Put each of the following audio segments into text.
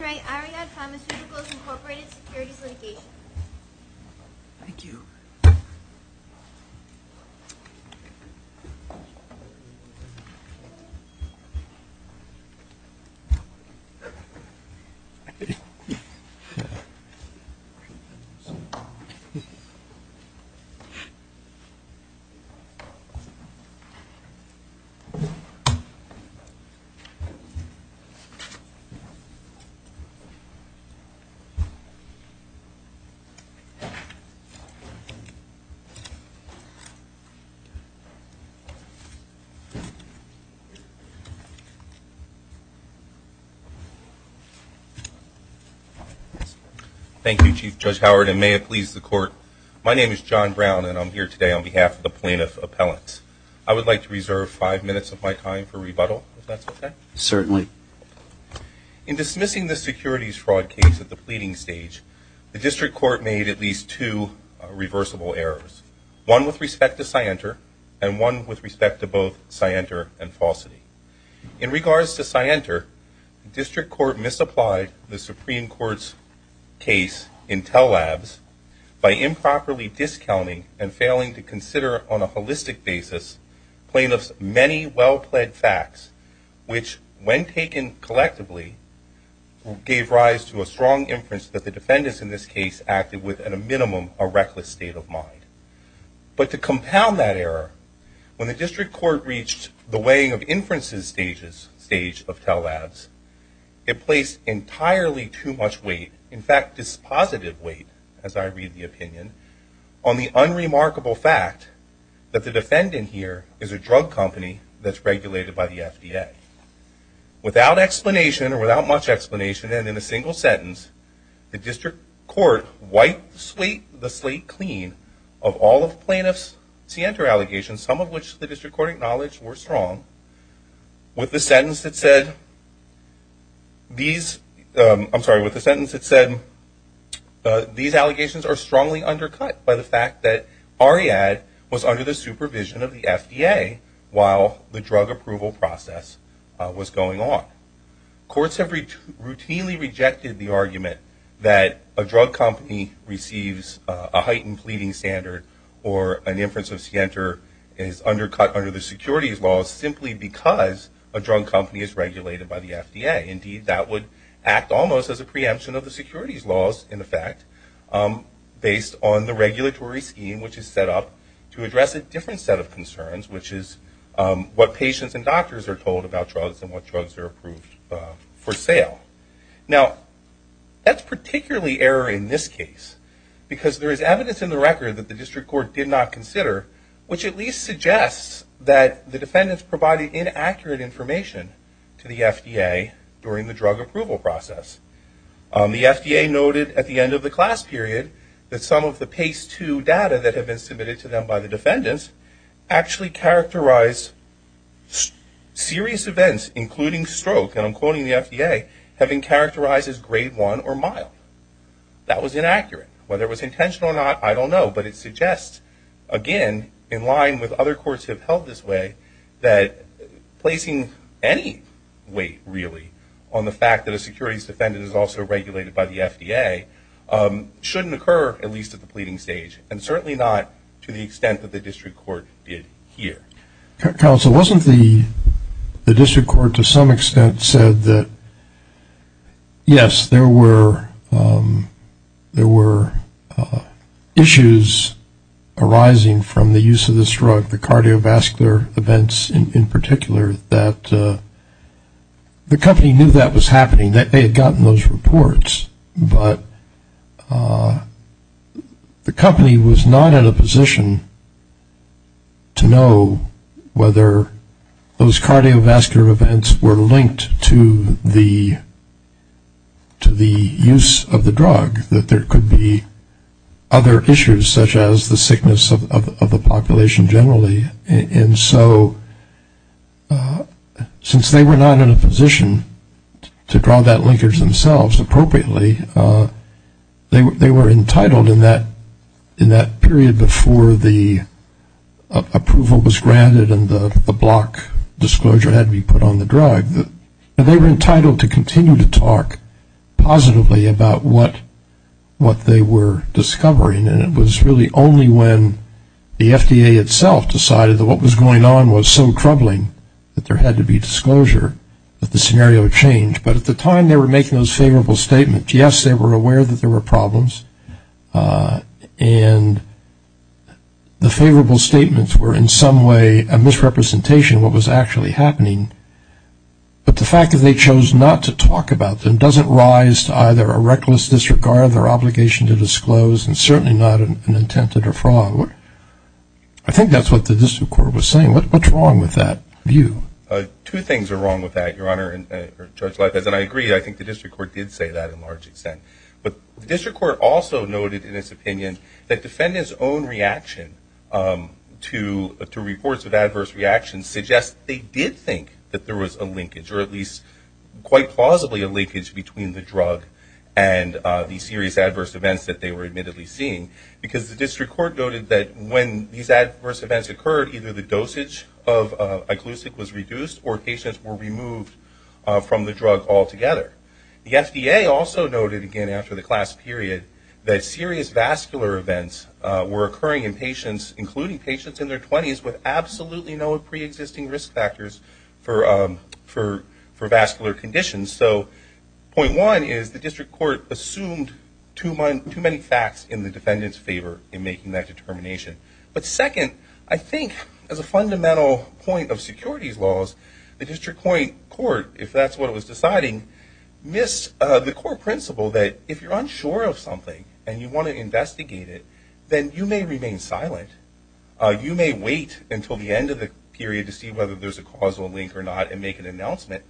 ARIAD Pharmaceuticals, Inc. Securities Litigation Thank you, Chief Judge Howard, and may it please the Court, my name is John Brown, and I'm here today on behalf of the plaintiff's appellant. I would like to reserve five minutes of my time for rebuttal, if that's okay? Certainly. In dismissing the securities fraud case at the pleading stage, the District Court made at least two reversible errors, one with respect to Scienter and one with respect to both Scienter and Falsity. In regards to Scienter, the District Court misapplied the Supreme Court's case in Tell Labs by improperly discounting and failing to consider on a holistic basis plaintiff's many well-pled facts, which, when taken collectively, gave rise to a strong inference that the defendants in this case acted with, at a minimum, a reckless state of mind. But to compound that error, when the District Court reached the weighing of inferences stage of Tell Labs, it placed entirely too much weight, in fact, dispositive weight, as I read the opinion, on the unremarkable fact that the defendant here is a drug company that's regulated by the FDA. Without explanation, or without much explanation, and in a single sentence, the District Court wiped the slate clean of all of plaintiff's Scienter allegations, some of which the District Court acknowledged were strong, with the sentence that said, these, I'm sorry, with the sentence that said, these allegations are strongly undercut by the fact that Ariadne was under the supervision of the FDA while the drug approval process was going on. Courts have routinely rejected the argument that a drug company receives a heightened pleading standard or an inference of Scienter is undercut under the securities laws simply because a drug company is regulated by the FDA. Indeed, that would act almost as a preemption of the securities laws, in effect, based on the regulatory scheme which is set up to address a different set of concerns, which is what patients and doctors are told about drugs and what drugs are approved for sale. Now, that's particularly error in this case, because there is evidence in the record that the District Court did not consider, which at least suggests that the defendants provided inaccurate information to the FDA during the drug approval process. The FDA noted at the end of the class period that some of the PACE 2 data that had been submitted to them by the defendants actually characterized serious events, including stroke, and I'm quoting the FDA, having characterized as grade one or mild. That was inaccurate. Whether it was intentional or not, I don't know, but it suggests, again, in line with other this way, that placing any weight, really, on the fact that a securities defendant is also regulated by the FDA shouldn't occur, at least at the pleading stage, and certainly not to the extent that the District Court did here. Counsel, wasn't the District Court, to some extent, said that, yes, there were issues arising from the use of this drug, the cardiovascular events in particular, that the company knew that was happening, that they had gotten those reports, but the company was not in a position to know whether those cardiovascular events were linked to the use of the drug, that there could be other issues, such as the sickness of the population, generally, and so, since they were not in a position to draw that linkage themselves appropriately, they were entitled in that period before the approval was granted and the block disclosure had to be put on the drug, that they were entitled to continue to talk positively about what they were discovering and it was really only when the FDA itself decided that what was going on was so troubling that there had to be disclosure that the scenario changed, but at the time they were making those favorable statements, yes, they were aware that there were problems, and the favorable statements were, in some way, a misrepresentation of what was actually happening, but the fact that they chose not to talk about them doesn't rise to either a reckless disregard of their obligation to disclose and certainly not an intent to defraud. I think that's what the District Court was saying. What's wrong with that view? Two things are wrong with that, Your Honor, and Judge Leibovitz, and I agree, I think the District Court did say that in large extent, but the District Court also noted in its opinion that defendants' own reaction to reports of adverse reactions suggests they did think that there was a linkage, or at least quite plausibly a linkage between the drug and the serious adverse events that they were admittedly seeing, because the District Court noted that when these adverse events occurred, either the dosage of iglucic was reduced or patients were removed from the drug altogether. The FDA also noted again after the class period that serious vascular events were occurring in patients, including patients in their 20s with absolutely no preexisting risk factors for vascular conditions. So point one is the District Court assumed too many facts in the defendant's favor in making that determination. But second, I think as a fundamental point of securities laws, the District Court, if that's what it was deciding, missed the core principle that if you're unsure of something and you want to investigate it, then you may remain silent. You may wait until the end of the period to see whether there's a causal link or not and make an announcement,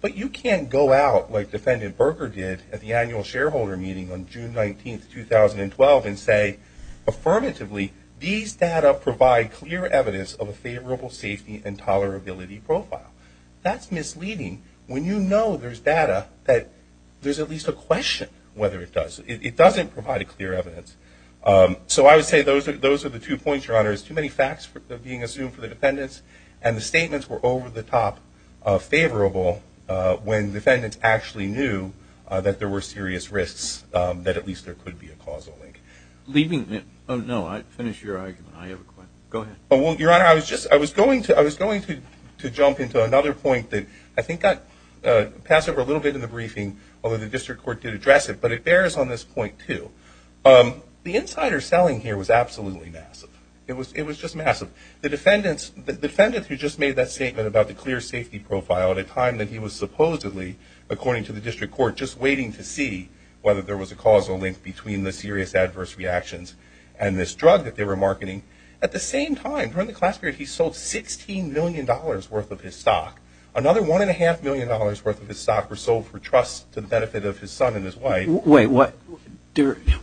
but you can't go out like Defendant Berger did at the annual shareholder meeting on June 19, 2012, and say affirmatively, these data provide clear evidence of a favorable safety and tolerability profile. That's misleading when you know there's data that there's at least a question whether it does. It doesn't provide a clear evidence. So I would say those are the two points, Your Honor. There's too many facts being assumed for the defendants and the statements were over the top favorable when defendants actually knew that there were serious risks that at least there could be a causal link. Leaving it, oh no, finish your argument. I have a question. Go ahead. Well, Your Honor, I was going to jump into another point that I think I passed over a little bit in the briefing, although the district court did address it, but it bears on this point, too. The insider selling here was absolutely massive. It was just massive. The defendant who just made that statement about the clear safety profile at a time that he was supposedly, according to the district court, just waiting to see whether there was a causal link between the serious adverse reactions and this drug that they were marketing. At the same time, during the class period, he sold $16 million worth of his stock. Another $1.5 million worth of his stock was sold for trust to the benefit of his son and his wife. Wait, what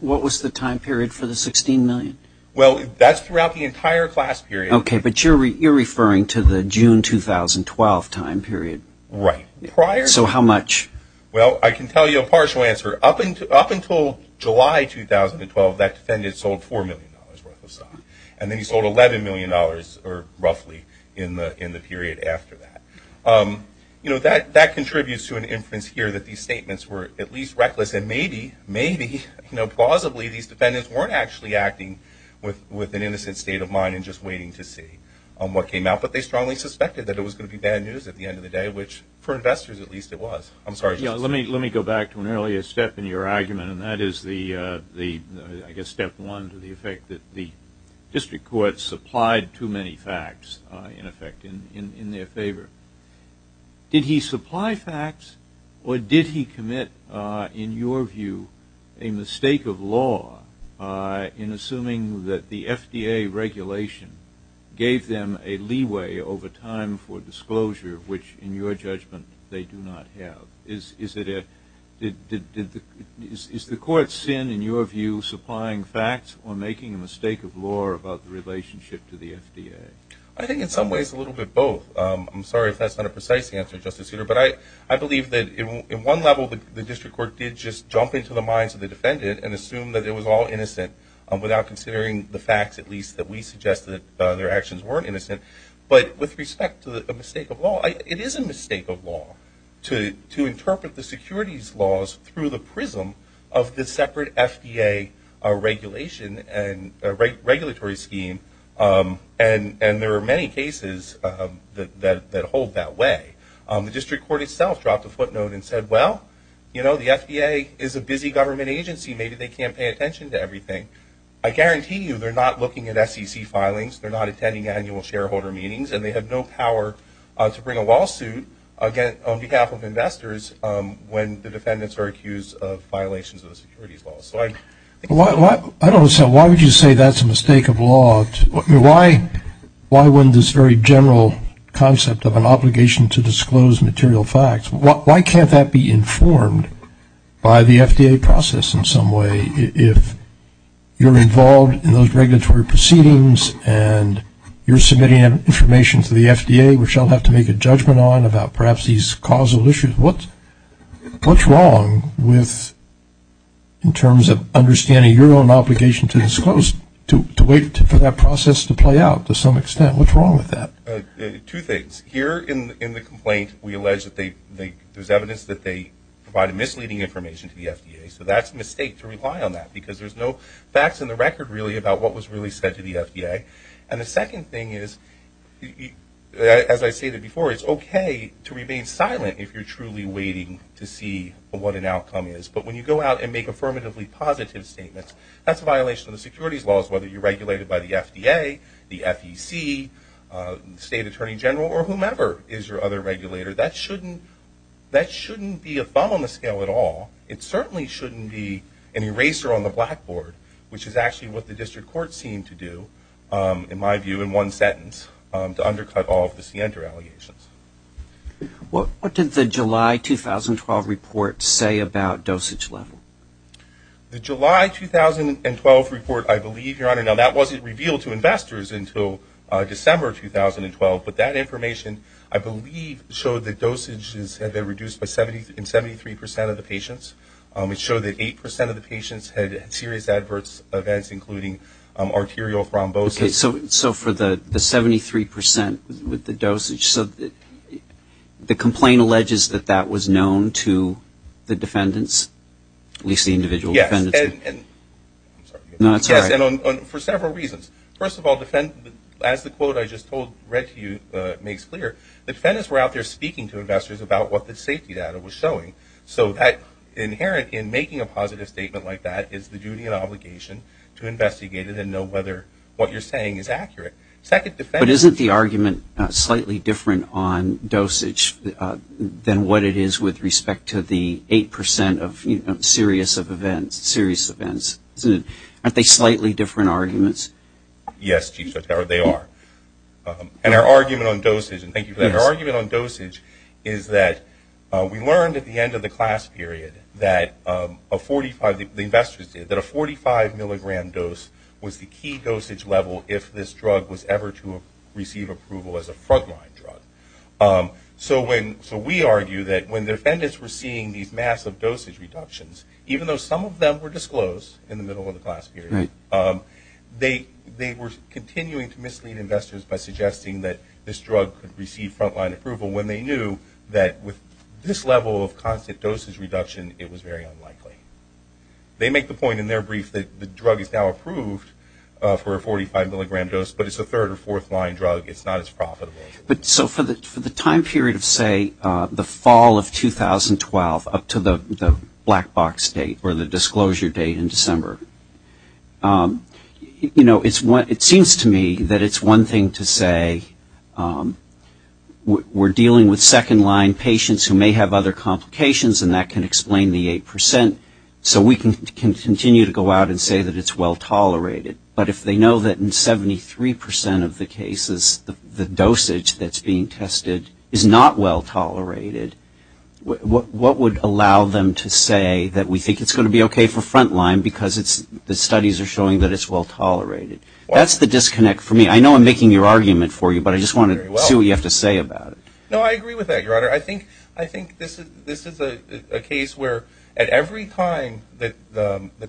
was the time period for the $16 million? Well, that's throughout the entire class period. Okay, but you're referring to the June 2012 time period. Right. Prior to... So how much? Well, I can tell you a partial answer. Up until July 2012, that defendant sold $4 million worth of stock, and then he sold $11 million, roughly, in the period after that. That contributes to an inference here that these statements were at least reckless, and maybe, plausibly, these defendants weren't actually acting with an innocent state of mind and just waiting to see what came out. But they strongly suspected that it was going to be bad news at the end of the day, which, for investors at least, it was. I'm sorry, just to say. Let me go back to an earlier step in your argument, and that is the, I guess, step one to the effect that the district court supplied too many facts, in effect, in their favor. Did he supply facts, or did he commit, in your view, a mistake of law in assuming that the FDA regulation gave them a leeway over time for disclosure, which, in your judgment, they do not have? Is the court's sin, in your view, supplying facts or making a mistake of law about the relationship to the FDA? I think, in some ways, a little bit of both. I'm sorry if that's not a precise answer, Justice Souter, but I believe that, in one level, the district court did just jump into the minds of the defendant and assume that it was all innocent, without considering the facts, at least, that we suggested that their actions weren't innocent. But with respect to a mistake of law, it is a mistake of law to interpret the securities laws through the prism of the separate FDA regulation and regulatory scheme, and there are many cases that hold that way. The district court itself dropped a footnote and said, well, you know, the FDA is a busy government agency, maybe they can't pay attention to everything. I guarantee you they're not looking at SEC filings, they're not attending annual shareholder meetings, and they have no power to bring a lawsuit on behalf of investors when the defendants are accused of violations of the securities laws. I don't understand. Why would you say that's a mistake of law? Why wouldn't this very general concept of an obligation to disclose material facts, why can't that be informed by the FDA process in some way? If you're involved in those regulatory proceedings and you're submitting information to the FDA, which I'll have to make a judgment on about perhaps these causal issues, what's wrong with, in terms of understanding your own obligation to wait for that process to play out to some extent, what's wrong with that? Two things. Here in the complaint, we allege that there's evidence that they provided misleading information to the FDA, so that's a mistake to rely on that, because there's no facts in the record really about what was really said to the FDA. And the second thing is, as I stated before, it's okay to remain silent if you're truly waiting to see what an outcome is, but when you go out and make affirmatively positive statements, that's a violation of the securities laws, whether you're regulated by the FDA, the FEC, the State Attorney General, or whomever is your other regulator. That shouldn't be a bum on the scale at all. It certainly shouldn't be an eraser on the blackboard, which is actually what the district courts seem to do, in my view, in one sentence, to undercut all of the CNTR allegations. What did the July 2012 report say about dosage level? The July 2012 report, I believe, Your Honor, now that wasn't revealed to investors until December 2012, but that information, I believe, showed that dosages have been reduced in 73 percent of the patients. It showed that 8 percent of the patients had serious adverse events, including arterial thrombosis. So for the 73 percent with the dosage, so the complaint alleges that that was known to the defendants, at least the individual defendants. Yes, and for several reasons. First of all, as the quote I just read to you makes clear, the defendants were out there speaking to investors about what the safety data was showing. So inherent in making a positive statement like that is the duty and obligation to investigate it and know whether what you're saying is accurate. But isn't the argument slightly different on dosage than what it is with respect to the 8 percent of serious events? Aren't they slightly different arguments? Yes, Chief Justice, they are. And our argument on dosage, and thank you for that, our argument on dosage is that we learned at the end of the class period that a 45 milligram dose was the key dosage level if this drug was ever to receive approval as a frontline drug. So we argue that when the defendants were seeing these massive dosage reductions, even though some of them were disclosed in the middle of the class period, they were continuing to mislead investors by suggesting that this drug could receive frontline approval when they knew that with this level of constant dosage reduction, it was very unlikely. They make the point in their brief that the drug is now approved for a 45 milligram dose, but it's a third or fourth line drug, it's not as profitable. But so for the time period of say the fall of 2012 up to the black box date or the disclosure date in December, you know, it seems to me that it's one thing to say we're dealing with so we can continue to go out and say that it's well tolerated. But if they know that in 73 percent of the cases, the dosage that's being tested is not well tolerated, what would allow them to say that we think it's going to be okay for frontline because the studies are showing that it's well tolerated? That's the disconnect for me. I know I'm making your argument for you, but I just want to see what you have to say about it. No, I agree with that, Your Honor. I think this is a case where at every time that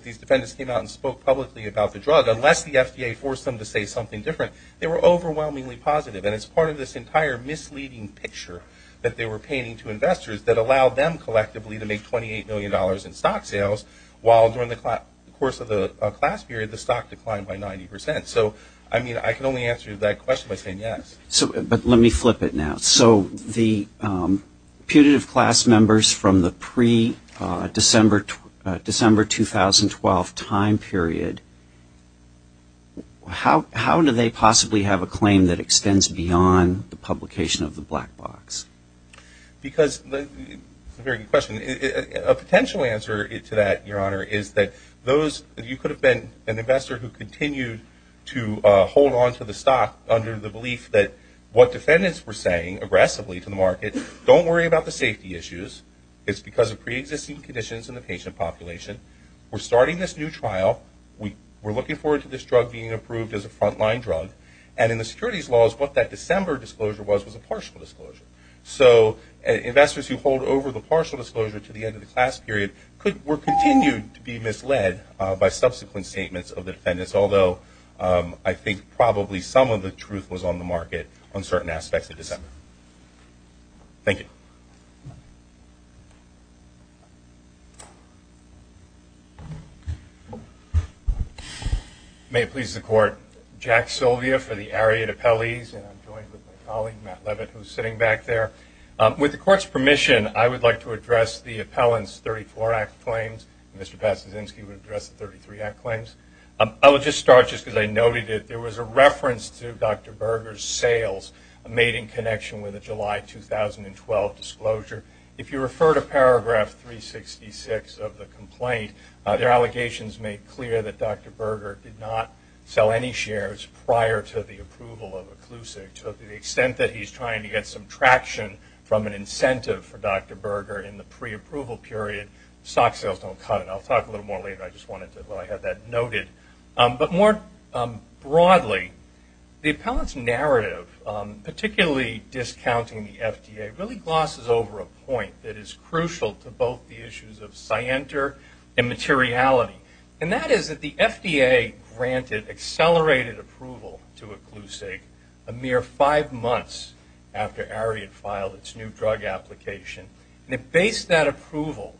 these defendants came out and spoke publicly about the drug, unless the FDA forced them to say something different, they were overwhelmingly positive. And it's part of this entire misleading picture that they were painting to investors that allowed them collectively to make $28 million in stock sales, while during the course of the class period, the stock declined by 90 percent. So I mean, I can only answer that question by saying yes. But let me flip it now. So the putative class members from the pre-December 2012 time period, how do they possibly have a claim that extends beyond the publication of the black box? Because – a very good question. A potential answer to that, Your Honor, is that those – you could have been an investor who continued to hold onto the stock under the belief that what defendants were saying aggressively to the market, don't worry about the safety issues. It's because of pre-existing conditions in the patient population. We're starting this new trial. We're looking forward to this drug being approved as a frontline drug. And in the securities laws, what that December disclosure was, was a partial disclosure. So investors who hold over the partial disclosure to the end of the class period could – were continued to be misled by subsequent statements of the defendants, although I think probably some of the truth was on the market on certain aspects of December. Thank you. May it please the Court. Jack Sylvia for the Ariat Appellees, and I'm joined by my colleague Matt Leavitt, who's sitting back there. With the Court's permission, I would like to address the Appellant's 34-Act Claims. Mr. Pazduszynski would address the 33-Act Claims. I would just start just because I noted it. There was a reference to Dr. Berger's sales made in connection with the July 2012 disclosure. If you refer to paragraph 366 of the complaint, their allegations make clear that Dr. Berger did not sell any shares prior to the approval of Occlusive. To the extent that he's trying to get some traction from an incentive for Dr. Berger in the pre-approval period, stock sales don't cut it. I'll talk a little more later. I just wanted to have that noted. But more broadly, the Appellant's narrative, particularly discounting the FDA, really glosses over a point that is crucial to both the issues of scienter and materiality. And that is that the FDA granted accelerated approval to Occlusive a mere five months after Ariat filed its new drug application. It based that approval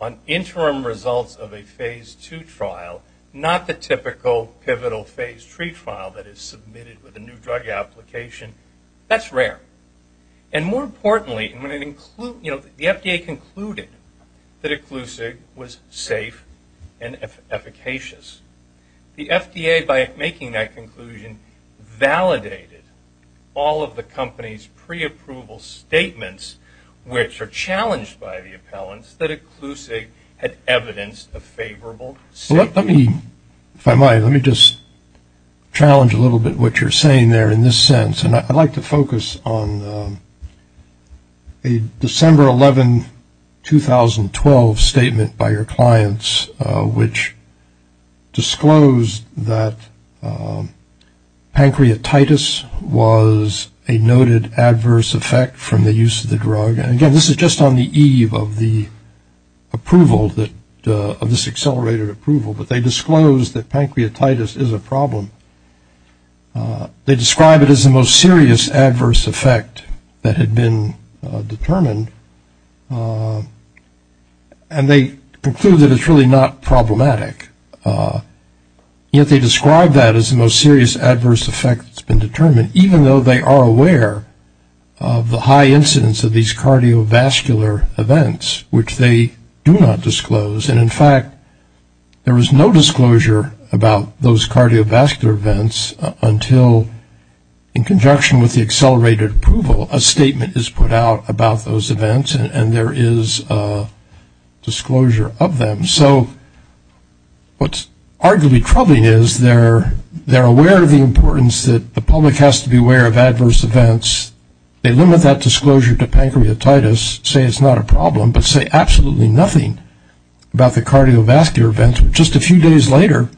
on interim results of a Phase II trial, not the typical pivotal Phase III trial that is submitted with a new drug application. That's rare. And more importantly, the FDA concluded that Occlusive was safe and efficacious. The FDA, by making that conclusion, validated all of the company's pre-approval statements, which are challenged by the Appellant's, that Occlusive had evidenced a favorable safety. Well, let me, if I might, let me just challenge a little bit what you're saying there in this sense. And I'd like to focus on a December 11, 2012 statement by your clients, which disclosed that pancreatitis was a noted adverse effect from the use of the drug. And again, this is just on the eve of the approval that, of this accelerated approval, but they disclosed that pancreatitis is a problem. They describe it as the most serious adverse effect that had been determined, and they conclude that it's really not problematic. Yet they describe that as the most serious adverse effect that's been determined, even though they are aware of the high incidence of these cardiovascular events, which they do not disclose. And in fact, there was no disclosure about those cardiovascular events until, in conjunction with the accelerated approval, a statement is put out about those events, and there is a disclosure of them. So what's arguably troubling is they're aware of the importance that the public has to be aware of adverse events. They limit that disclosure to pancreatitis, say it's not a problem, but say absolutely nothing about the cardiovascular events. Just a few days later,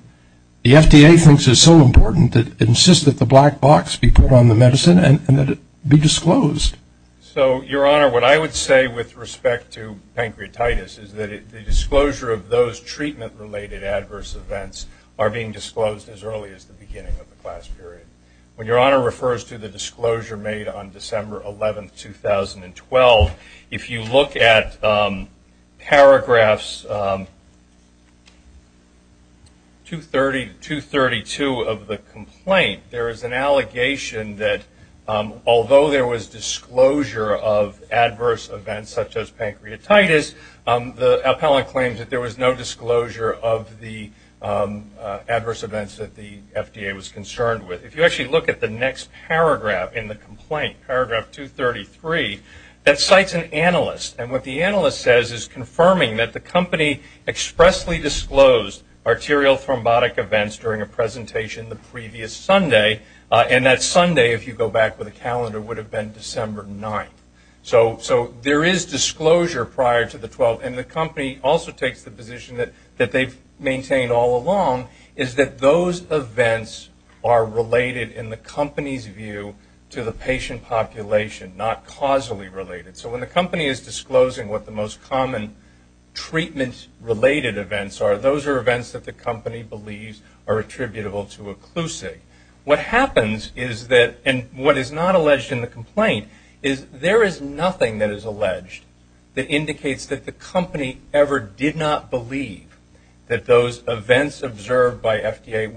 the FDA thinks it's so important that it insists that the black person, and that it be disclosed. So, Your Honor, what I would say with respect to pancreatitis is that the disclosure of those treatment-related adverse events are being disclosed as early as the beginning of the class period. When Your Honor refers to the disclosure made on December 11th, 2012, if you look at paragraphs 232 of the complaint, there is an allegation that there is an allegation although there was disclosure of adverse events such as pancreatitis, the appellant claims that there was no disclosure of the adverse events that the FDA was concerned with. If you actually look at the next paragraph in the complaint, paragraph 233, that cites an analyst. And what the analyst says is confirming that the company expressly disclosed arterial thrombotic events during a presentation the previous Sunday, and that Sunday, if you go back with a calendar, would have been December 9th. So there is disclosure prior to the 12th, and the company also takes the position that they've maintained all along, is that those events are related in the company's view to the patient population, not causally related. So when the company is disclosing what the most common treatment-related events are, those are events that the company believes are attributable to a CLUSIG. What happens is that, and what is not alleged in the complaint, is there is nothing that is alleged that indicates that the company ever did not believe that those events observed by FDA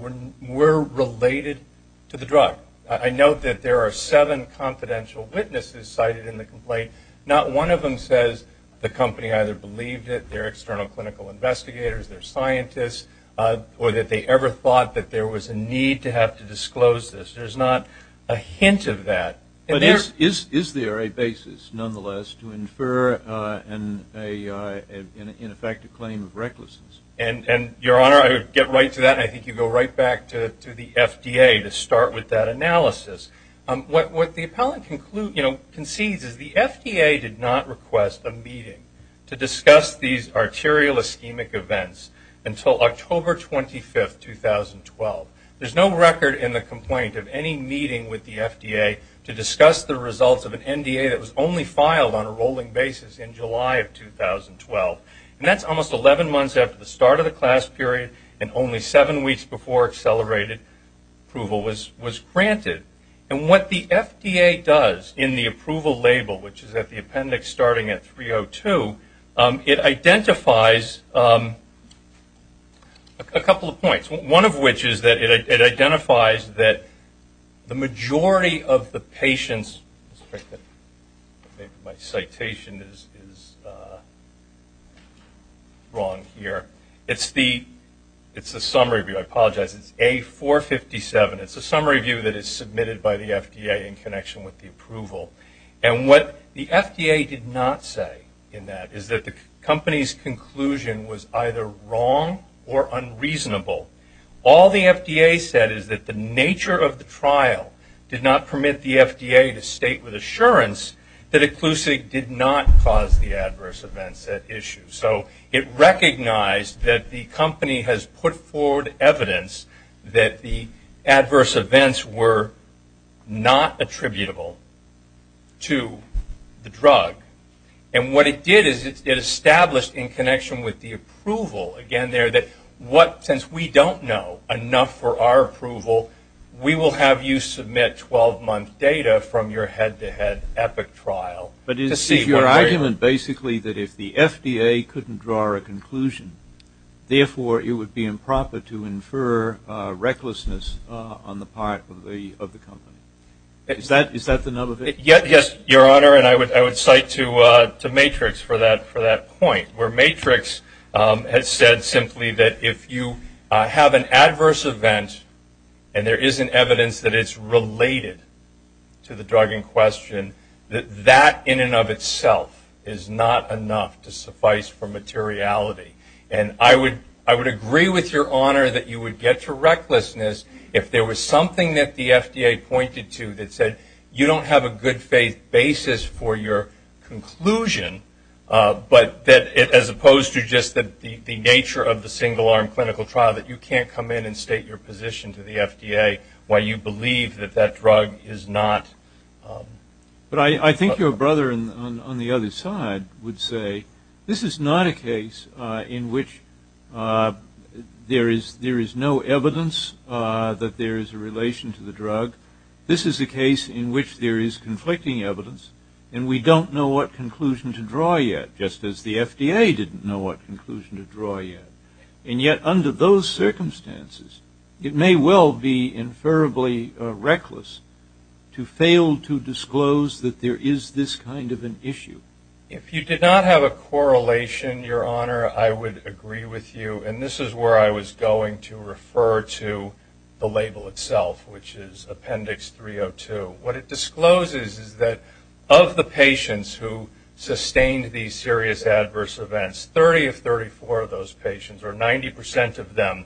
were related to the drug. I note that there are seven confidential witnesses cited in the complaint. Not one of them says the company either believed it, their external clinical investigators, their scientists, or that they ever thought that there was a need to have to disclose this. There's not a hint of that. But is there a basis, nonetheless, to infer an ineffective claim of recklessness? And Your Honor, I would get right to that, and I think you go right back to the FDA to start with that analysis. What the appellant concedes is the FDA did not request a meeting to discuss these arterial ischemic events until October 25, 2012. There's no record in the complaint of any meeting with the FDA to discuss the results of an NDA that was only filed on a rolling basis in July of 2012. And that's almost 11 months after the start of the CLAS period, and only seven weeks before accelerated approval was granted. And what the FDA does in the approval label, which is at the appendix starting at 302, it identifies a couple of points. One of which is that it identifies that the majority of the patients, my citation is wrong here, it's the summary, I apologize, it's A457, it's submitted by the FDA in connection with the approval. And what the FDA did not say in that is that the company's conclusion was either wrong or unreasonable. All the FDA said is that the nature of the trial did not permit the FDA to state with assurance that occlusive did not cause the adverse events at issue. So it recognized that the company has put forward evidence that the adverse events were not attributable to the drug. And what it did is it established in connection with the approval, again there, that what since we don't know enough for our approval, we will have you submit 12-month data from your head-to-head epic trial to see where we are. And basically that if the FDA couldn't draw a conclusion, therefore it would be improper to infer recklessness on the part of the company. Is that the nub of it? Your Honor, and I would cite to Matrix for that point, where Matrix has said simply that if you have an adverse event and there isn't evidence that it's related to the drug in itself, it's not enough to suffice for materiality. And I would agree with your Honor that you would get to recklessness if there was something that the FDA pointed to that said you don't have a good faith basis for your conclusion, but that as opposed to just the nature of the single arm clinical trial that you can't come in and state your position to the FDA why you believe that that drug is not. But I think your brother on the other side would say this is not a case in which there is no evidence that there is a relation to the drug. This is a case in which there is conflicting evidence, and we don't know what conclusion to draw yet, just as the FDA didn't know what conclusion to draw yet. And yet under those circumstances, it may well be inferably reckless to fail to disclose that there is this kind of an issue. If you did not have a correlation, your Honor, I would agree with you, and this is where I was going to refer to the label itself, which is Appendix 302. What it discloses is that of the patients who sustained these serious adverse events, 30 of 34 of those patients, or 90 percent of them,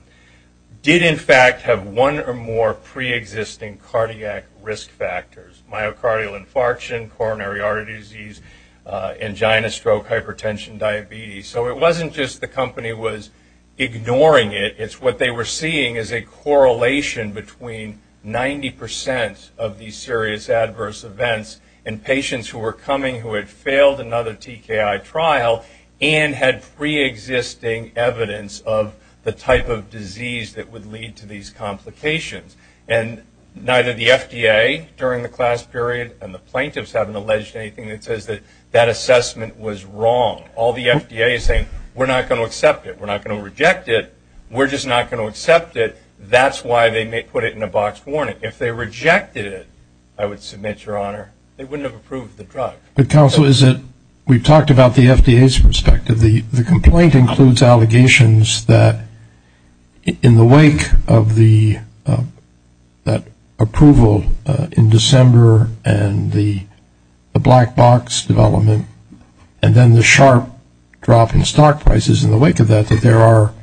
did in fact have one or more preexisting cardiac risk factors, myocardial infarction, coronary artery disease, angina, stroke, hypertension, diabetes. So it wasn't just the company was ignoring it. It's what they were seeing as a correlation between 90 percent of these serious adverse events and patients who were coming who had failed another TKI trial and had preexisting evidence of the type of disease that would lead to these complications. And neither the FDA during the class period and the plaintiffs having alleged anything that says that assessment was wrong. All the FDA is saying, we're not going to accept it. We're not going to reject it. We're just not going to accept it. That's why they put it in a boxed warning. If they rejected it, I would submit, Your Honor, they wouldn't have approved the drug. But counsel, we've talked about the FDA's perspective. The complaint includes allegations that in the wake of the approval in December and the black box development, and then the sharp drop in stock prices in the wake of that, that there are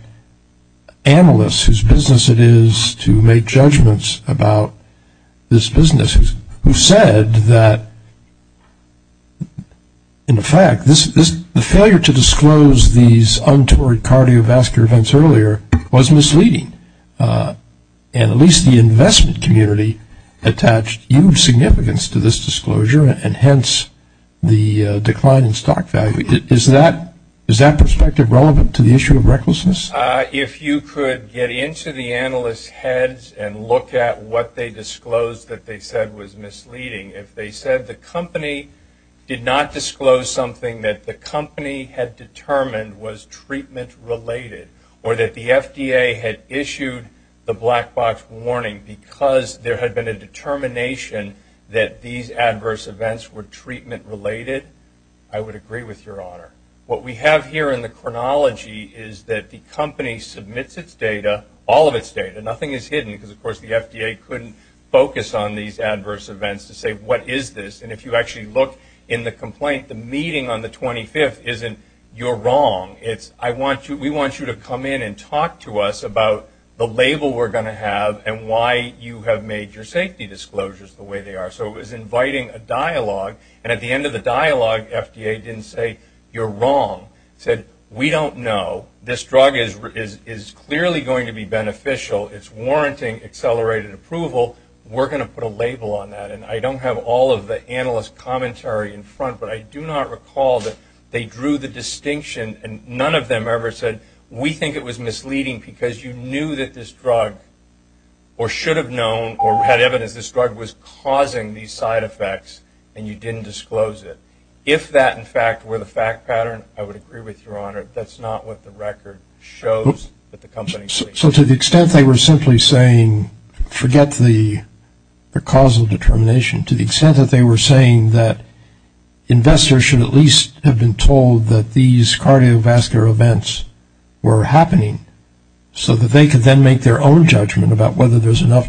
analysts whose business it is to make judgments about this business, who said that, in fact, the failure to disclose these untoward cardiovascular events earlier was misleading. And at least the investment community attached huge significance to this disclosure, and hence the decline in stock value. Is that perspective relevant to the issue of recklessness? If you could get into the analysts' heads and look at what they disclosed that they said was misleading. If they said the company did not disclose something that the company had determined was treatment related, or that the FDA had issued the black box warning because there had been a determination that these adverse events were treatment related, I would have here in the chronology is that the company submits its data, all of its data, nothing is hidden because, of course, the FDA couldn't focus on these adverse events to say, What is this? And if you actually look in the complaint, the meeting on the 25th isn't, You're wrong. It's, We want you to come in and talk to us about the label we're going to have and why you have made your safety disclosures the way they are. So it was inviting a dialogue, and at the end of the dialogue, FDA didn't say, You're wrong. It said, We don't know. This drug is clearly going to be beneficial. It's warranting accelerated approval. We're going to put a label on that, and I don't have all of the analysts' commentary in front, but I do not recall that they drew the distinction, and none of them ever said, We think it was misleading because you knew that this drug, or should have known, or had evidence this side effects, and you didn't disclose it. If that, in fact, were the fact pattern, I would agree with Your Honor. That's not what the record shows that the company's saying. So to the extent they were simply saying, Forget the causal determination, to the extent that they were saying that investors should at least have been told that these cardiovascular events were happening so that they could then make their own judgment about whether there's or not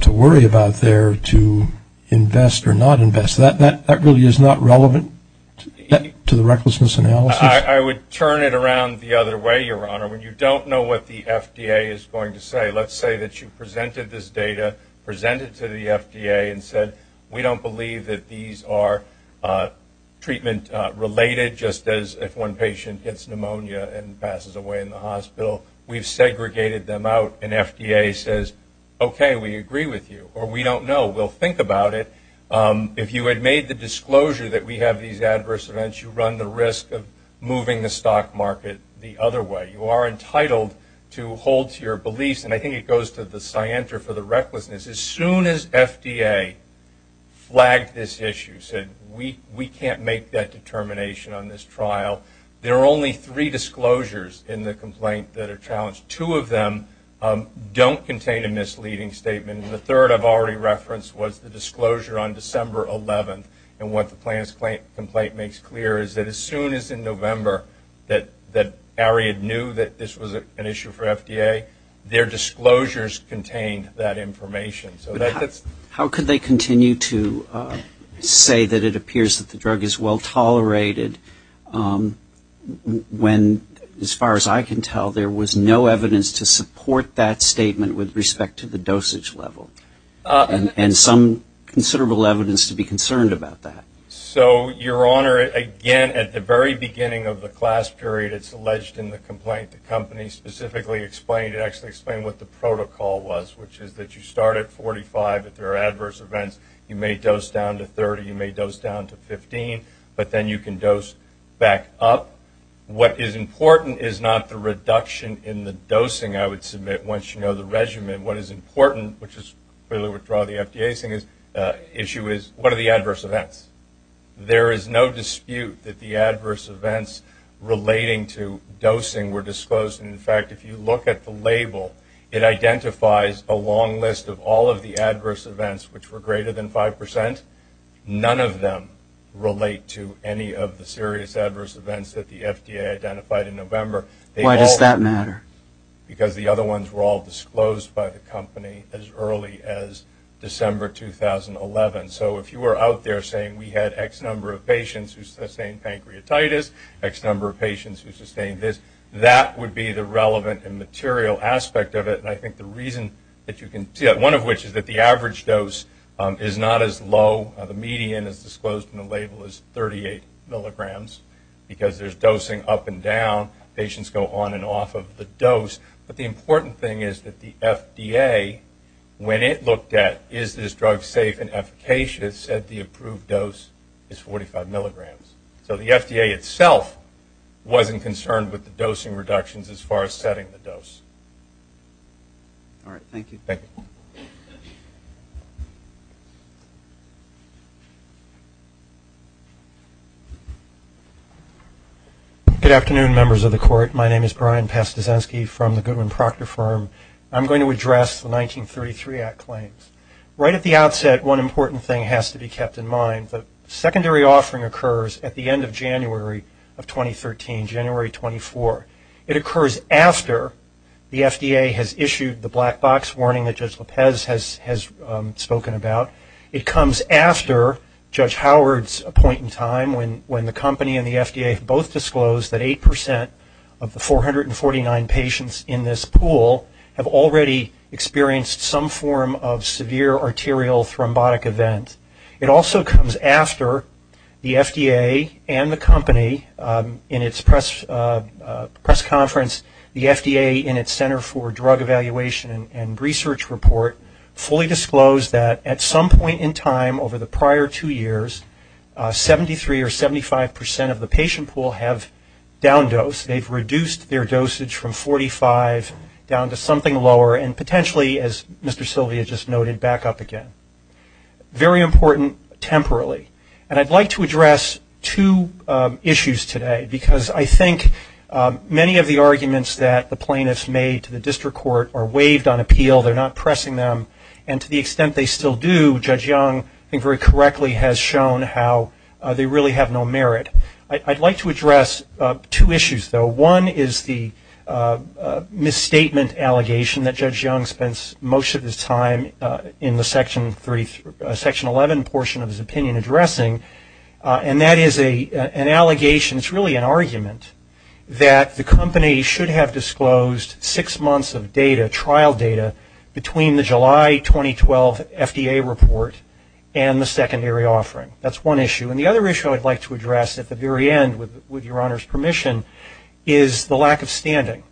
invested, that really is not relevant to the recklessness analysis? I would turn it around the other way, Your Honor. When you don't know what the FDA is going to say, let's say that you presented this data, presented it to the FDA, and said, We don't believe that these are treatment-related, just as if one patient gets pneumonia and passes away in the hospital, we've segregated them out, and FDA says, Okay, we agree with you, or we don't know, we'll think about it. If you had made the disclosure that we have these adverse events, you run the risk of moving the stock market the other way. You are entitled to hold to your beliefs, and I think it goes to the scienter for the recklessness. As soon as FDA flagged this issue, said, We can't make that determination on this trial, there are only three disclosures in the complaint that are challenged. Two of them don't contain a misleading statement, and the third I've already referenced was the disclosure on December 11th, and what the plaintiff's complaint makes clear is that as soon as in November, that Ariadne knew that this was an issue for FDA, their disclosures contained that information. How could they continue to say that it appears that the drug is well-tolerated when, as far as I can tell, there was no evidence to support that statement with respect to the dosage level, and some considerable evidence to be concerned about that? So your Honor, again, at the very beginning of the class period, it's alleged in the complaint the company specifically explained, it actually explained what the protocol was, which is that you start at 45 if there are adverse events, you may dose down to 30, you may dose down to 15, but then you can dose back up. What is important is not the reduction in the dosing, I would submit, once you know the regimen. What is important, which is clearly withdraw the FDA's issue, is what are the adverse events? There is no dispute that the adverse events relating to dosing were disclosed, and in fact, if you look at the label, it identifies a long list of all of the adverse events which were greater than 5%. None of them relate to any of the serious adverse events that the FDA identified in November. Why does that matter? Because the other ones were all disclosed by the company as early as December 2011. So if you were out there saying we had X number of patients who sustained pancreatitis, X number of patients who sustained this, that would be the relevant and material aspect of it, and I think the reason that you can see that, one of which is that the average dose is not as low, the median is disclosed in the label as 38 milligrams, because there is dosing up and down, patients go on and off of the dose, but the important thing is that the FDA, when it looked at is this drug safe and efficacious, said the approved dose is 45 milligrams. So the FDA itself wasn't concerned with the dosing reductions as far as setting the dose. All right. Thank you. Good afternoon, members of the court. My name is Brian Pastizansky from the Goodwin Proctor Firm. I'm going to address the 1933 Act claims. Right at the outset, one important thing has to be kept in mind. The secondary offering occurs at the end of January of 2013, January 24. It occurs after the FDA has issued the black box warning that Judge Lopez has spoken about. It comes after Judge Howard's appointing time, when the company and the FDA both disclosed that 8% of the 449 patients in this pool have already experienced some form of severe arterial thrombotic event. It also comes after the FDA and the company, in its press release conference, the FDA in its Center for Drug Evaluation and Research report, fully disclosed that at some point in time over the prior two years, 73 or 75% of the patient pool have down-dosed. They've reduced their dosage from 45 down to something lower and potentially, as Mr. Silvia just noted, back up again. Very important temporally. And I'd like to address two issues today, because I think many of the arguments that the plaintiffs made to the district court are waived on appeal. They're not pressing them. And to the extent they still do, Judge Young, I think very correctly, has shown how they really have no merit. I'd like to address two issues, though. One is the misstatement allegation that Judge Young spends most of his time in the Section 11 portion of his opinion addressing. And that is an allegation, it's really an argument, that the company should have disclosed six months of data, trial data, between the July 2012 FDA report and the secondary offering. That's one issue. And the other issue I'd like to address at the very end, with your Honor's permission, is the lack of standing.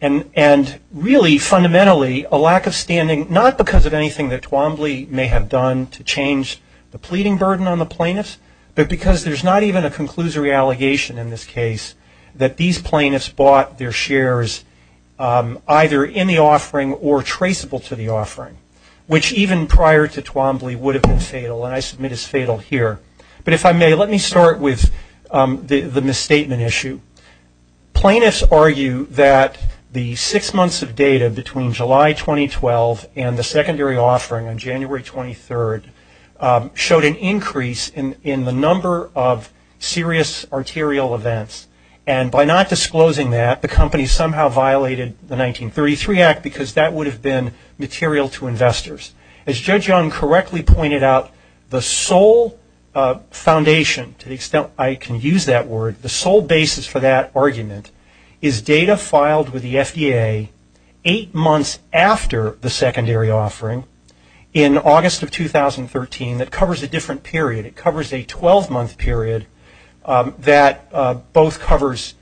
And really, fundamentally, a lack of standing, not because of anything that Twombly may have done to change the pleading burden on the plaintiffs, there's not even a conclusory allegation in this case that these plaintiffs bought their shares either in the offering or traceable to the offering, which even prior to Twombly would have been fatal, and I submit is fatal here. But if I may, let me start with the misstatement issue. Plaintiffs argue that the six months of data between July 2012 and the secondary offering on January 23rd showed an increase in the number of serious arterial events. And by not disclosing that, the company somehow violated the 1933 Act because that would have been material to investors. As Judge Young correctly pointed out, the sole foundation, to the extent I can use that word, the sole basis for that argument, is data filed with the FDA eight months after the secondary offering in August of 2013 that covers a different period. It covers a 12-month period that both covers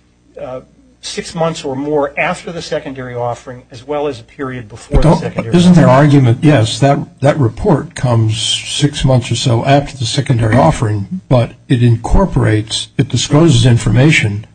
six months or more after the secondary offering as well as a period before the secondary offering. Isn't their argument, yes, that report comes six months or so after the secondary offering, but it incorporates, it discloses information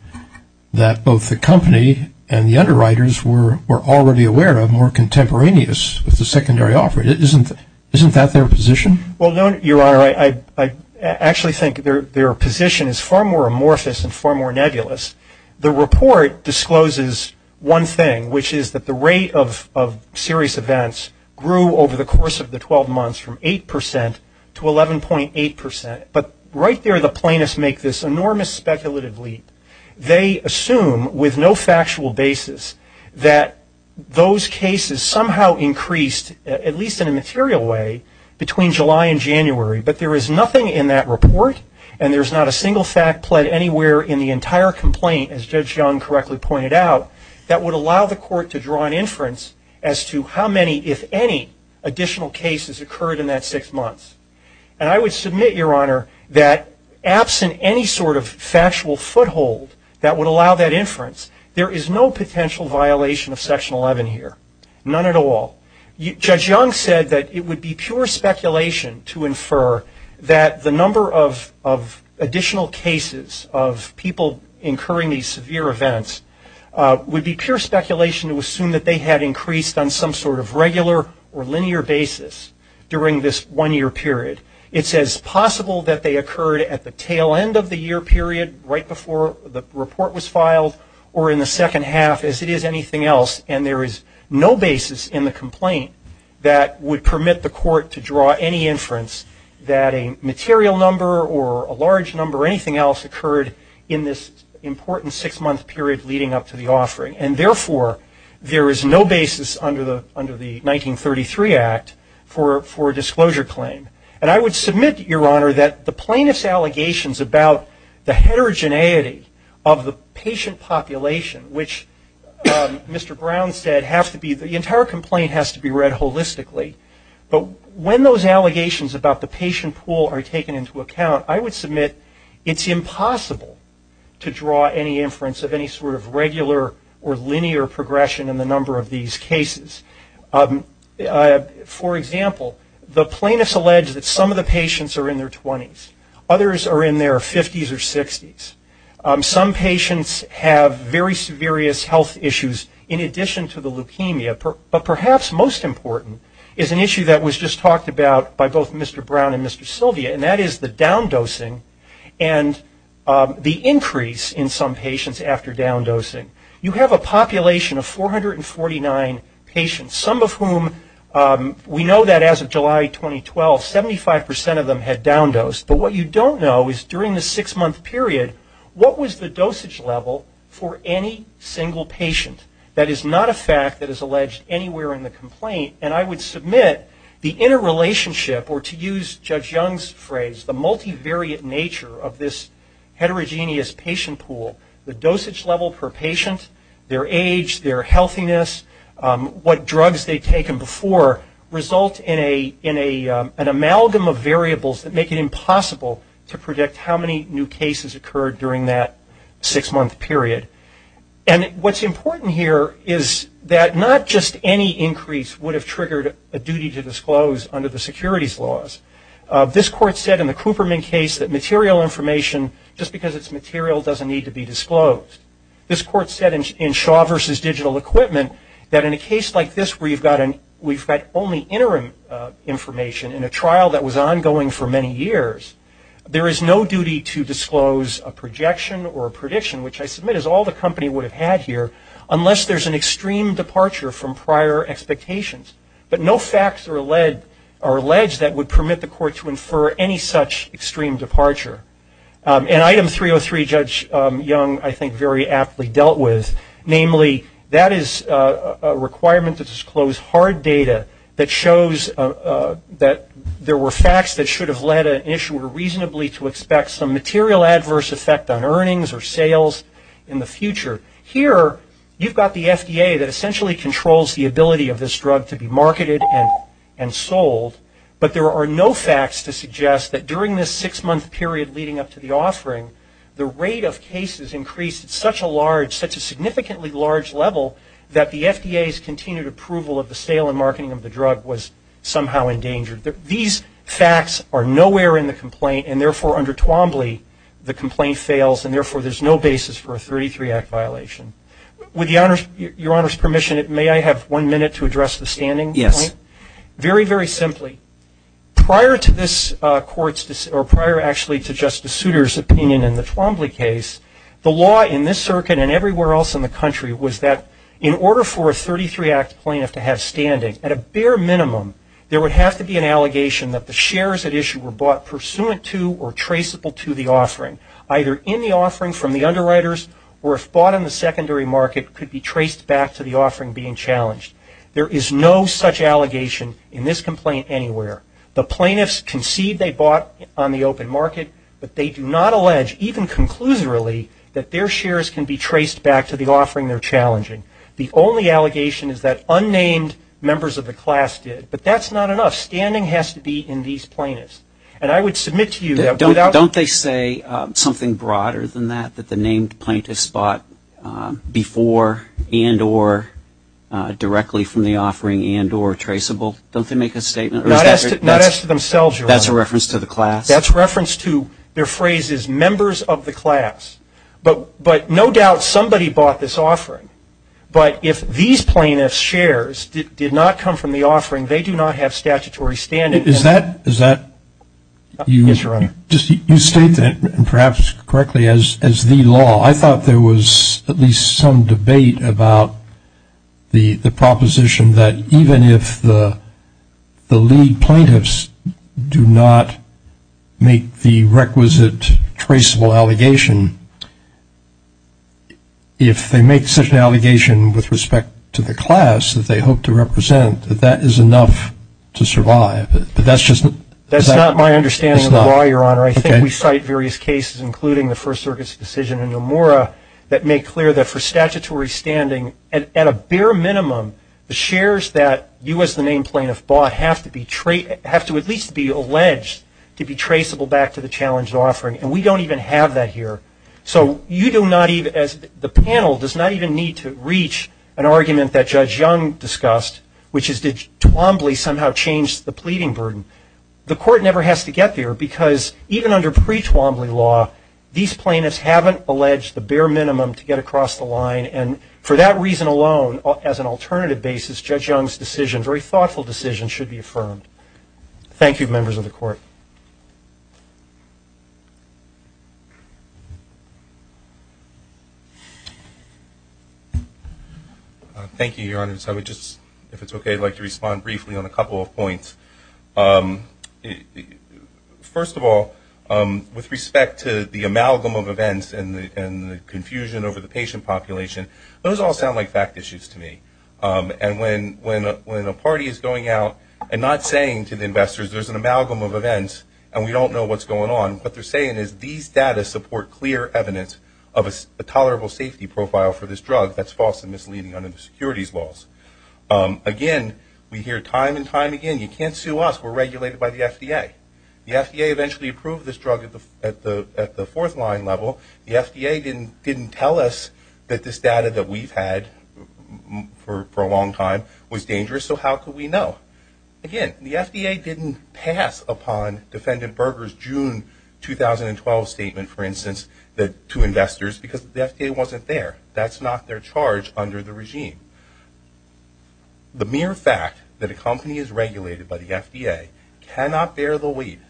that both the company and the underwriters were already aware of, were contemporaneous with the secondary offering. Isn't that their position? Well, Your Honor, I actually think their position is far more amorphous and far more nebulous. The report discloses one thing, which is that the rate of serious events grew over the course of the 12 months from 8 percent to 11.8 percent. But right there the plaintiffs make this enormous speculative leap. They assume with no factual basis that those cases somehow increased, at least in a material way, between July and January. But there is nothing in that report and there's not a single fact pled anywhere in the entire complaint, as Judge Young correctly pointed out, that would allow the court to draw an inference as to how many, if any, additional cases occurred in that six months. And I would submit, Your Honor, that absent any sort of factual foothold that would allow that inference, there is no potential violation of Section 11 here, none at all. Judge Young said that it would be pure speculation to infer that the number of additional cases of people incurring these severe events would be pure speculation to assume that they had increased on some sort of regular or linear basis during this one-year period. It's as possible that they occurred at the tail end of the year period, right before the report was filed, or in the second half, as it is anything else. And there is no basis in the complaint that would permit the court to draw any inference that a material number or a large number or anything else occurred in this important six-month period leading up to the offering. And therefore, there is no basis under the 1933 Act for a disclosure claim. And I would submit, Your Honor, that the plaintiff's allegations about the heterogeneity of the patient population, which Mr. Brown said the entire complaint has to be read holistically, but when those allegations about the patient pool are taken into account, I would submit it's impossible to draw any inference of any sort of regular or linear progression in the number of these cases. For example, the plaintiff's alleged that some of the patients are in their 20s. Others are in their 50s or 60s. Some patients have very severe health issues in addition to the leukemia, but perhaps most important is an issue that was just talked about by both Mr. Brown and Mr. Sylvia, and that is the down-dosing and the increase in some patients after down-dosing. You have a population of 449 patients, some of whom we know that as of July 2012, 75% of them had down-dosed. But what you don't know is during the six-month period, what was the dosage level for any single patient? That is not a fact that is alleged anywhere in the complaint, and I would submit the interrelationship, or to use Judge Young's phrase, the multivariate nature of this heterogeneous patient pool, the dosage level per patient, their age, their healthiness, what drugs they've taken before, result in an amalgam of variables that make it impossible to predict how many new cases occurred during that six-month period. And what's important here is that not just any increase would have triggered a duty to disclose under the securities laws. This Court said in the Cooperman case that material information, just because it's material, doesn't need to be disclosed. This Court said in Shaw v. Digital Equipment that in a case like this where we've got only interim information in a trial that was ongoing for many years, there is no duty to disclose a projection or a prediction, which I submit is all the company would have had here, unless there's an extreme departure from prior expectations. But no facts are alleged that would permit the Court to infer any such extreme departure. And Item 303, Judge Young, I think, very aptly dealt with. Namely, that is a requirement to disclose hard data that shows that there were facts that should have led an issuer reasonably to expect some material adverse effect on earnings or sales in the future. Here, you've got the FDA that essentially controls the ability of this drug to be marketed and sold, but there are no facts to suggest that during this six-month period leading up to the offering, the rate of cases increased at such a large, such a significantly large level, that the FDA's continued approval of the sale and marketing of the drug was somehow endangered. These facts are nowhere in the complaint, and therefore, under Twombly, the complaint fails, and therefore, there's no basis for a 33-Act violation. With Your Honor's permission, may I have one minute to address the standing point? Yes. Very, very simply. Prior to this Court's, or prior actually to Justice Souter's opinion in the Twombly case, the law in this circuit and everywhere else in the country was that in order for a 33-Act plaintiff to have standing, at a bare minimum, there would have to be an allegation that the shares at issue were bought pursuant to or traceable to the offering, either in the offering from the underwriters or if bought in the secondary market, could be traced back to the offering being challenged. There is no such allegation in this complaint anywhere. The plaintiffs concede they bought on the open market, but they do not allege, even conclusively, that their shares can be traced back to the offering they're challenging. The only allegation is that unnamed members of the class did, but that's not enough. Standing has to be in these plaintiffs. And I would submit to you that without... Don't they say something broader than that, that the named plaintiffs bought before and or directly from the offering and or traceable? Don't they make a statement? Not as to themselves, Your Honor. That's a reference to the class? That's a reference to their phrases, members of the class. But no doubt somebody bought this offering, but if these plaintiffs' shares did not come from the offering, they do not have statutory standing. Is that... Yes, Your Honor. You state that, perhaps correctly, as the law. I thought there was at least some debate about the proposition that even if the lead plaintiffs do not make the requisite traceable allegation, if they make such an allegation with respect to the class that they hope to represent, that that is enough to survive. But that's just... That's not my understanding of the law, Your Honor. I think we cite various cases, including the First Circuit's decision in Nomura, that make clear that for statutory standing, at a bare minimum, the shares that you as the named plaintiff bought have to at least be alleged to be traceable back to the challenged offering, and we don't even have that here. So you do not even, as the panel, does not even need to reach an argument that Judge Young discussed, which is did Twombly somehow change the pleading burden? The Court never has to get there, because even under pre-Twombly law, these plaintiffs haven't alleged the bare minimum to get across the line, and for that reason alone, as an alternative basis, Judge Young's decision, very thoughtful decision, should be affirmed. Thank you, members of the Court. Thank you, Your Honors. I would just, if it's okay, like to respond briefly on a couple of points. First of all, with respect to the amalgam of events and the confusion over the patient population, those all sound like fact issues to me. And when a party is going out and not saying to the investors, there's an amalgam of events, and we don't know what's going on, what they're saying is these data support clear evidence of a tolerable safety profile for this drug that's false and misleading under the securities laws. Again, we hear time and time again, you can't sue us, we're regulated by the FDA. The FDA eventually approved this drug at the fourth line level. The FDA didn't tell us that this data that we've had for a long time was dangerous, so how could we know? Again, the FDA didn't pass upon Defendant Berger's June 2012 statement, for instance, to investors, because the FDA wasn't there. That's not their charge under the regime. The mere fact that a company is regulated by the FDA cannot bear the weight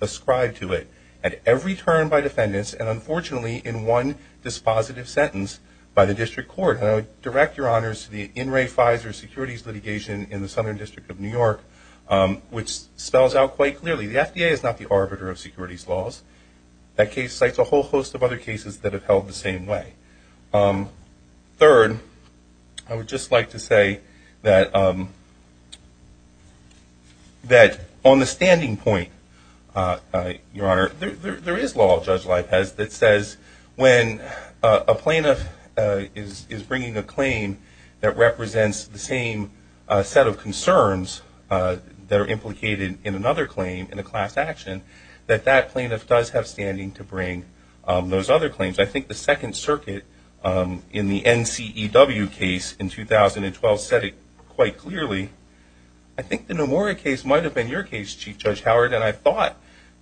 ascribed to it at every turn by defendants, and unfortunately, in one dispositive sentence by the district court. And I would direct your honors to the in re Pfizer securities litigation in the Southern District of New York, which spells out quite clearly, the FDA is not the arbiter of securities laws. That case cites a whole host of other cases that have held the same way. Third, I would just like to say that on the standing point, your honor, there is law, Judge Laipez, that says when a plaintiff is bringing a claim that represents the same set of concerns that are implicated in another claim in a class action, that that plaintiff does have standing to bring those other claims. I think the Second Circuit in the NCEW case in 2012 said it quite clearly. I think the Nomura case might have been your case, Chief Judge Howard, and I thought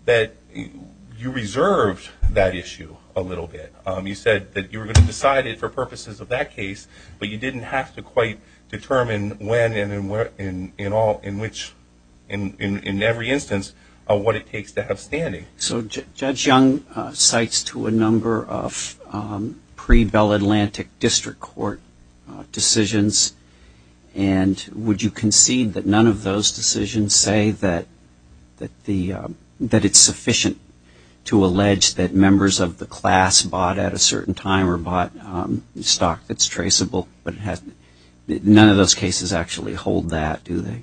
that you reserved that issue a little bit. You said that you were going to decide it for purposes of that case, but you didn't have to quite determine when and in all, in which, in every instance, what it takes to have standing. So Judge Young cites to a number of pre-Bell Atlantic District Court decisions, and would you concede that none of those decisions say that it's sufficient to allege that members of the class bought at a certain time or bought stock that's traceable, but none of those cases actually hold that, do they?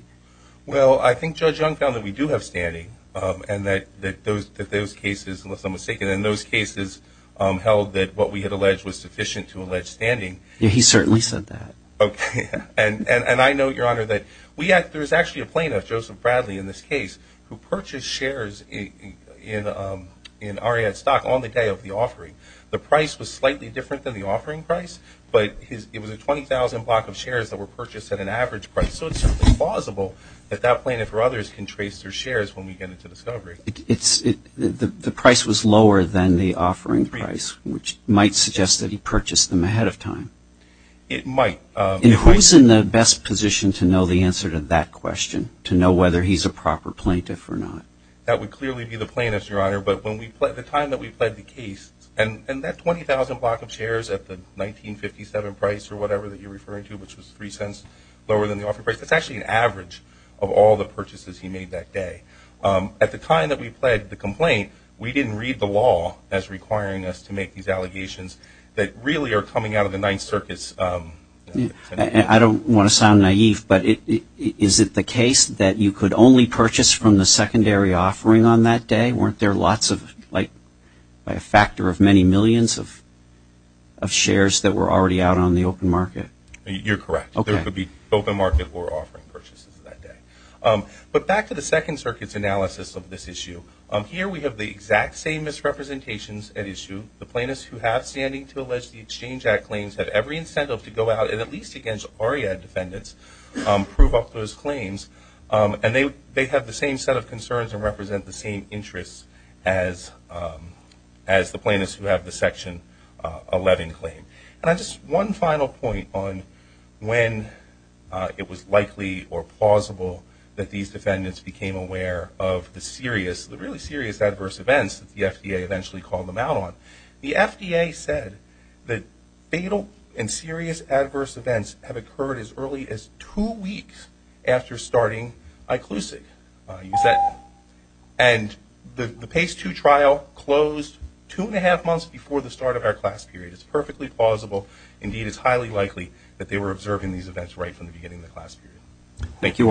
Well, I think Judge Young found that we do have standing, and that those cases, unless I'm mistaken, in those cases held that what we had alleged was sufficient to allege standing. He certainly said that. And I know, Your Honor, that there's actually a plaintiff, Joseph Bradley, in this case, who purchased shares in Ariad stock on the day of the offering. The price was slightly different than the offering price, but it was a $20,000 block of shares that were purchased at an average price. So it's simply plausible that that plaintiff or others can trace their shares when we get into discovery. The price was lower than the offering price, which might suggest that he purchased them ahead of time. It might. And who's in the best position to know the answer to that question, to know whether he's a proper plaintiff or not? That would clearly be the plaintiff, Your Honor, but when we, the time that we pled the case, and that $20,000 block of shares at the 1957 price or whatever that you're talking about, lower than the offering price, that's actually an average of all the purchases he made that day. At the time that we pled the complaint, we didn't read the law as requiring us to make these allegations that really are coming out of the Ninth Circus. I don't want to sound naive, but is it the case that you could only purchase from the secondary offering on that day? Weren't there lots of, like, by a factor of many millions of shares that were already out on the open market? You're correct. Okay. There could be open market or offering purchases that day. But back to the Second Circuit's analysis of this issue. Here we have the exact same misrepresentations at issue. The plaintiffs who have standing to allege the Exchange Act claims have every incentive to go out, and at least against ARIA defendants, prove up those claims. And they have the same set of concerns and represent the same interests as the plaintiffs who have the Section 11 claim. And just one final point on when it was likely or plausible that these defendants became aware of the serious, the really serious adverse events that the FDA eventually called them out on. The FDA said that fatal and serious adverse events have occurred as early as two weeks after starting iClusive. And the PACE 2 trial closed two and a half months before the start of our class period. It's perfectly plausible. Indeed, it's highly likely that they were observing these events right from the beginning of the class period. Thank you all.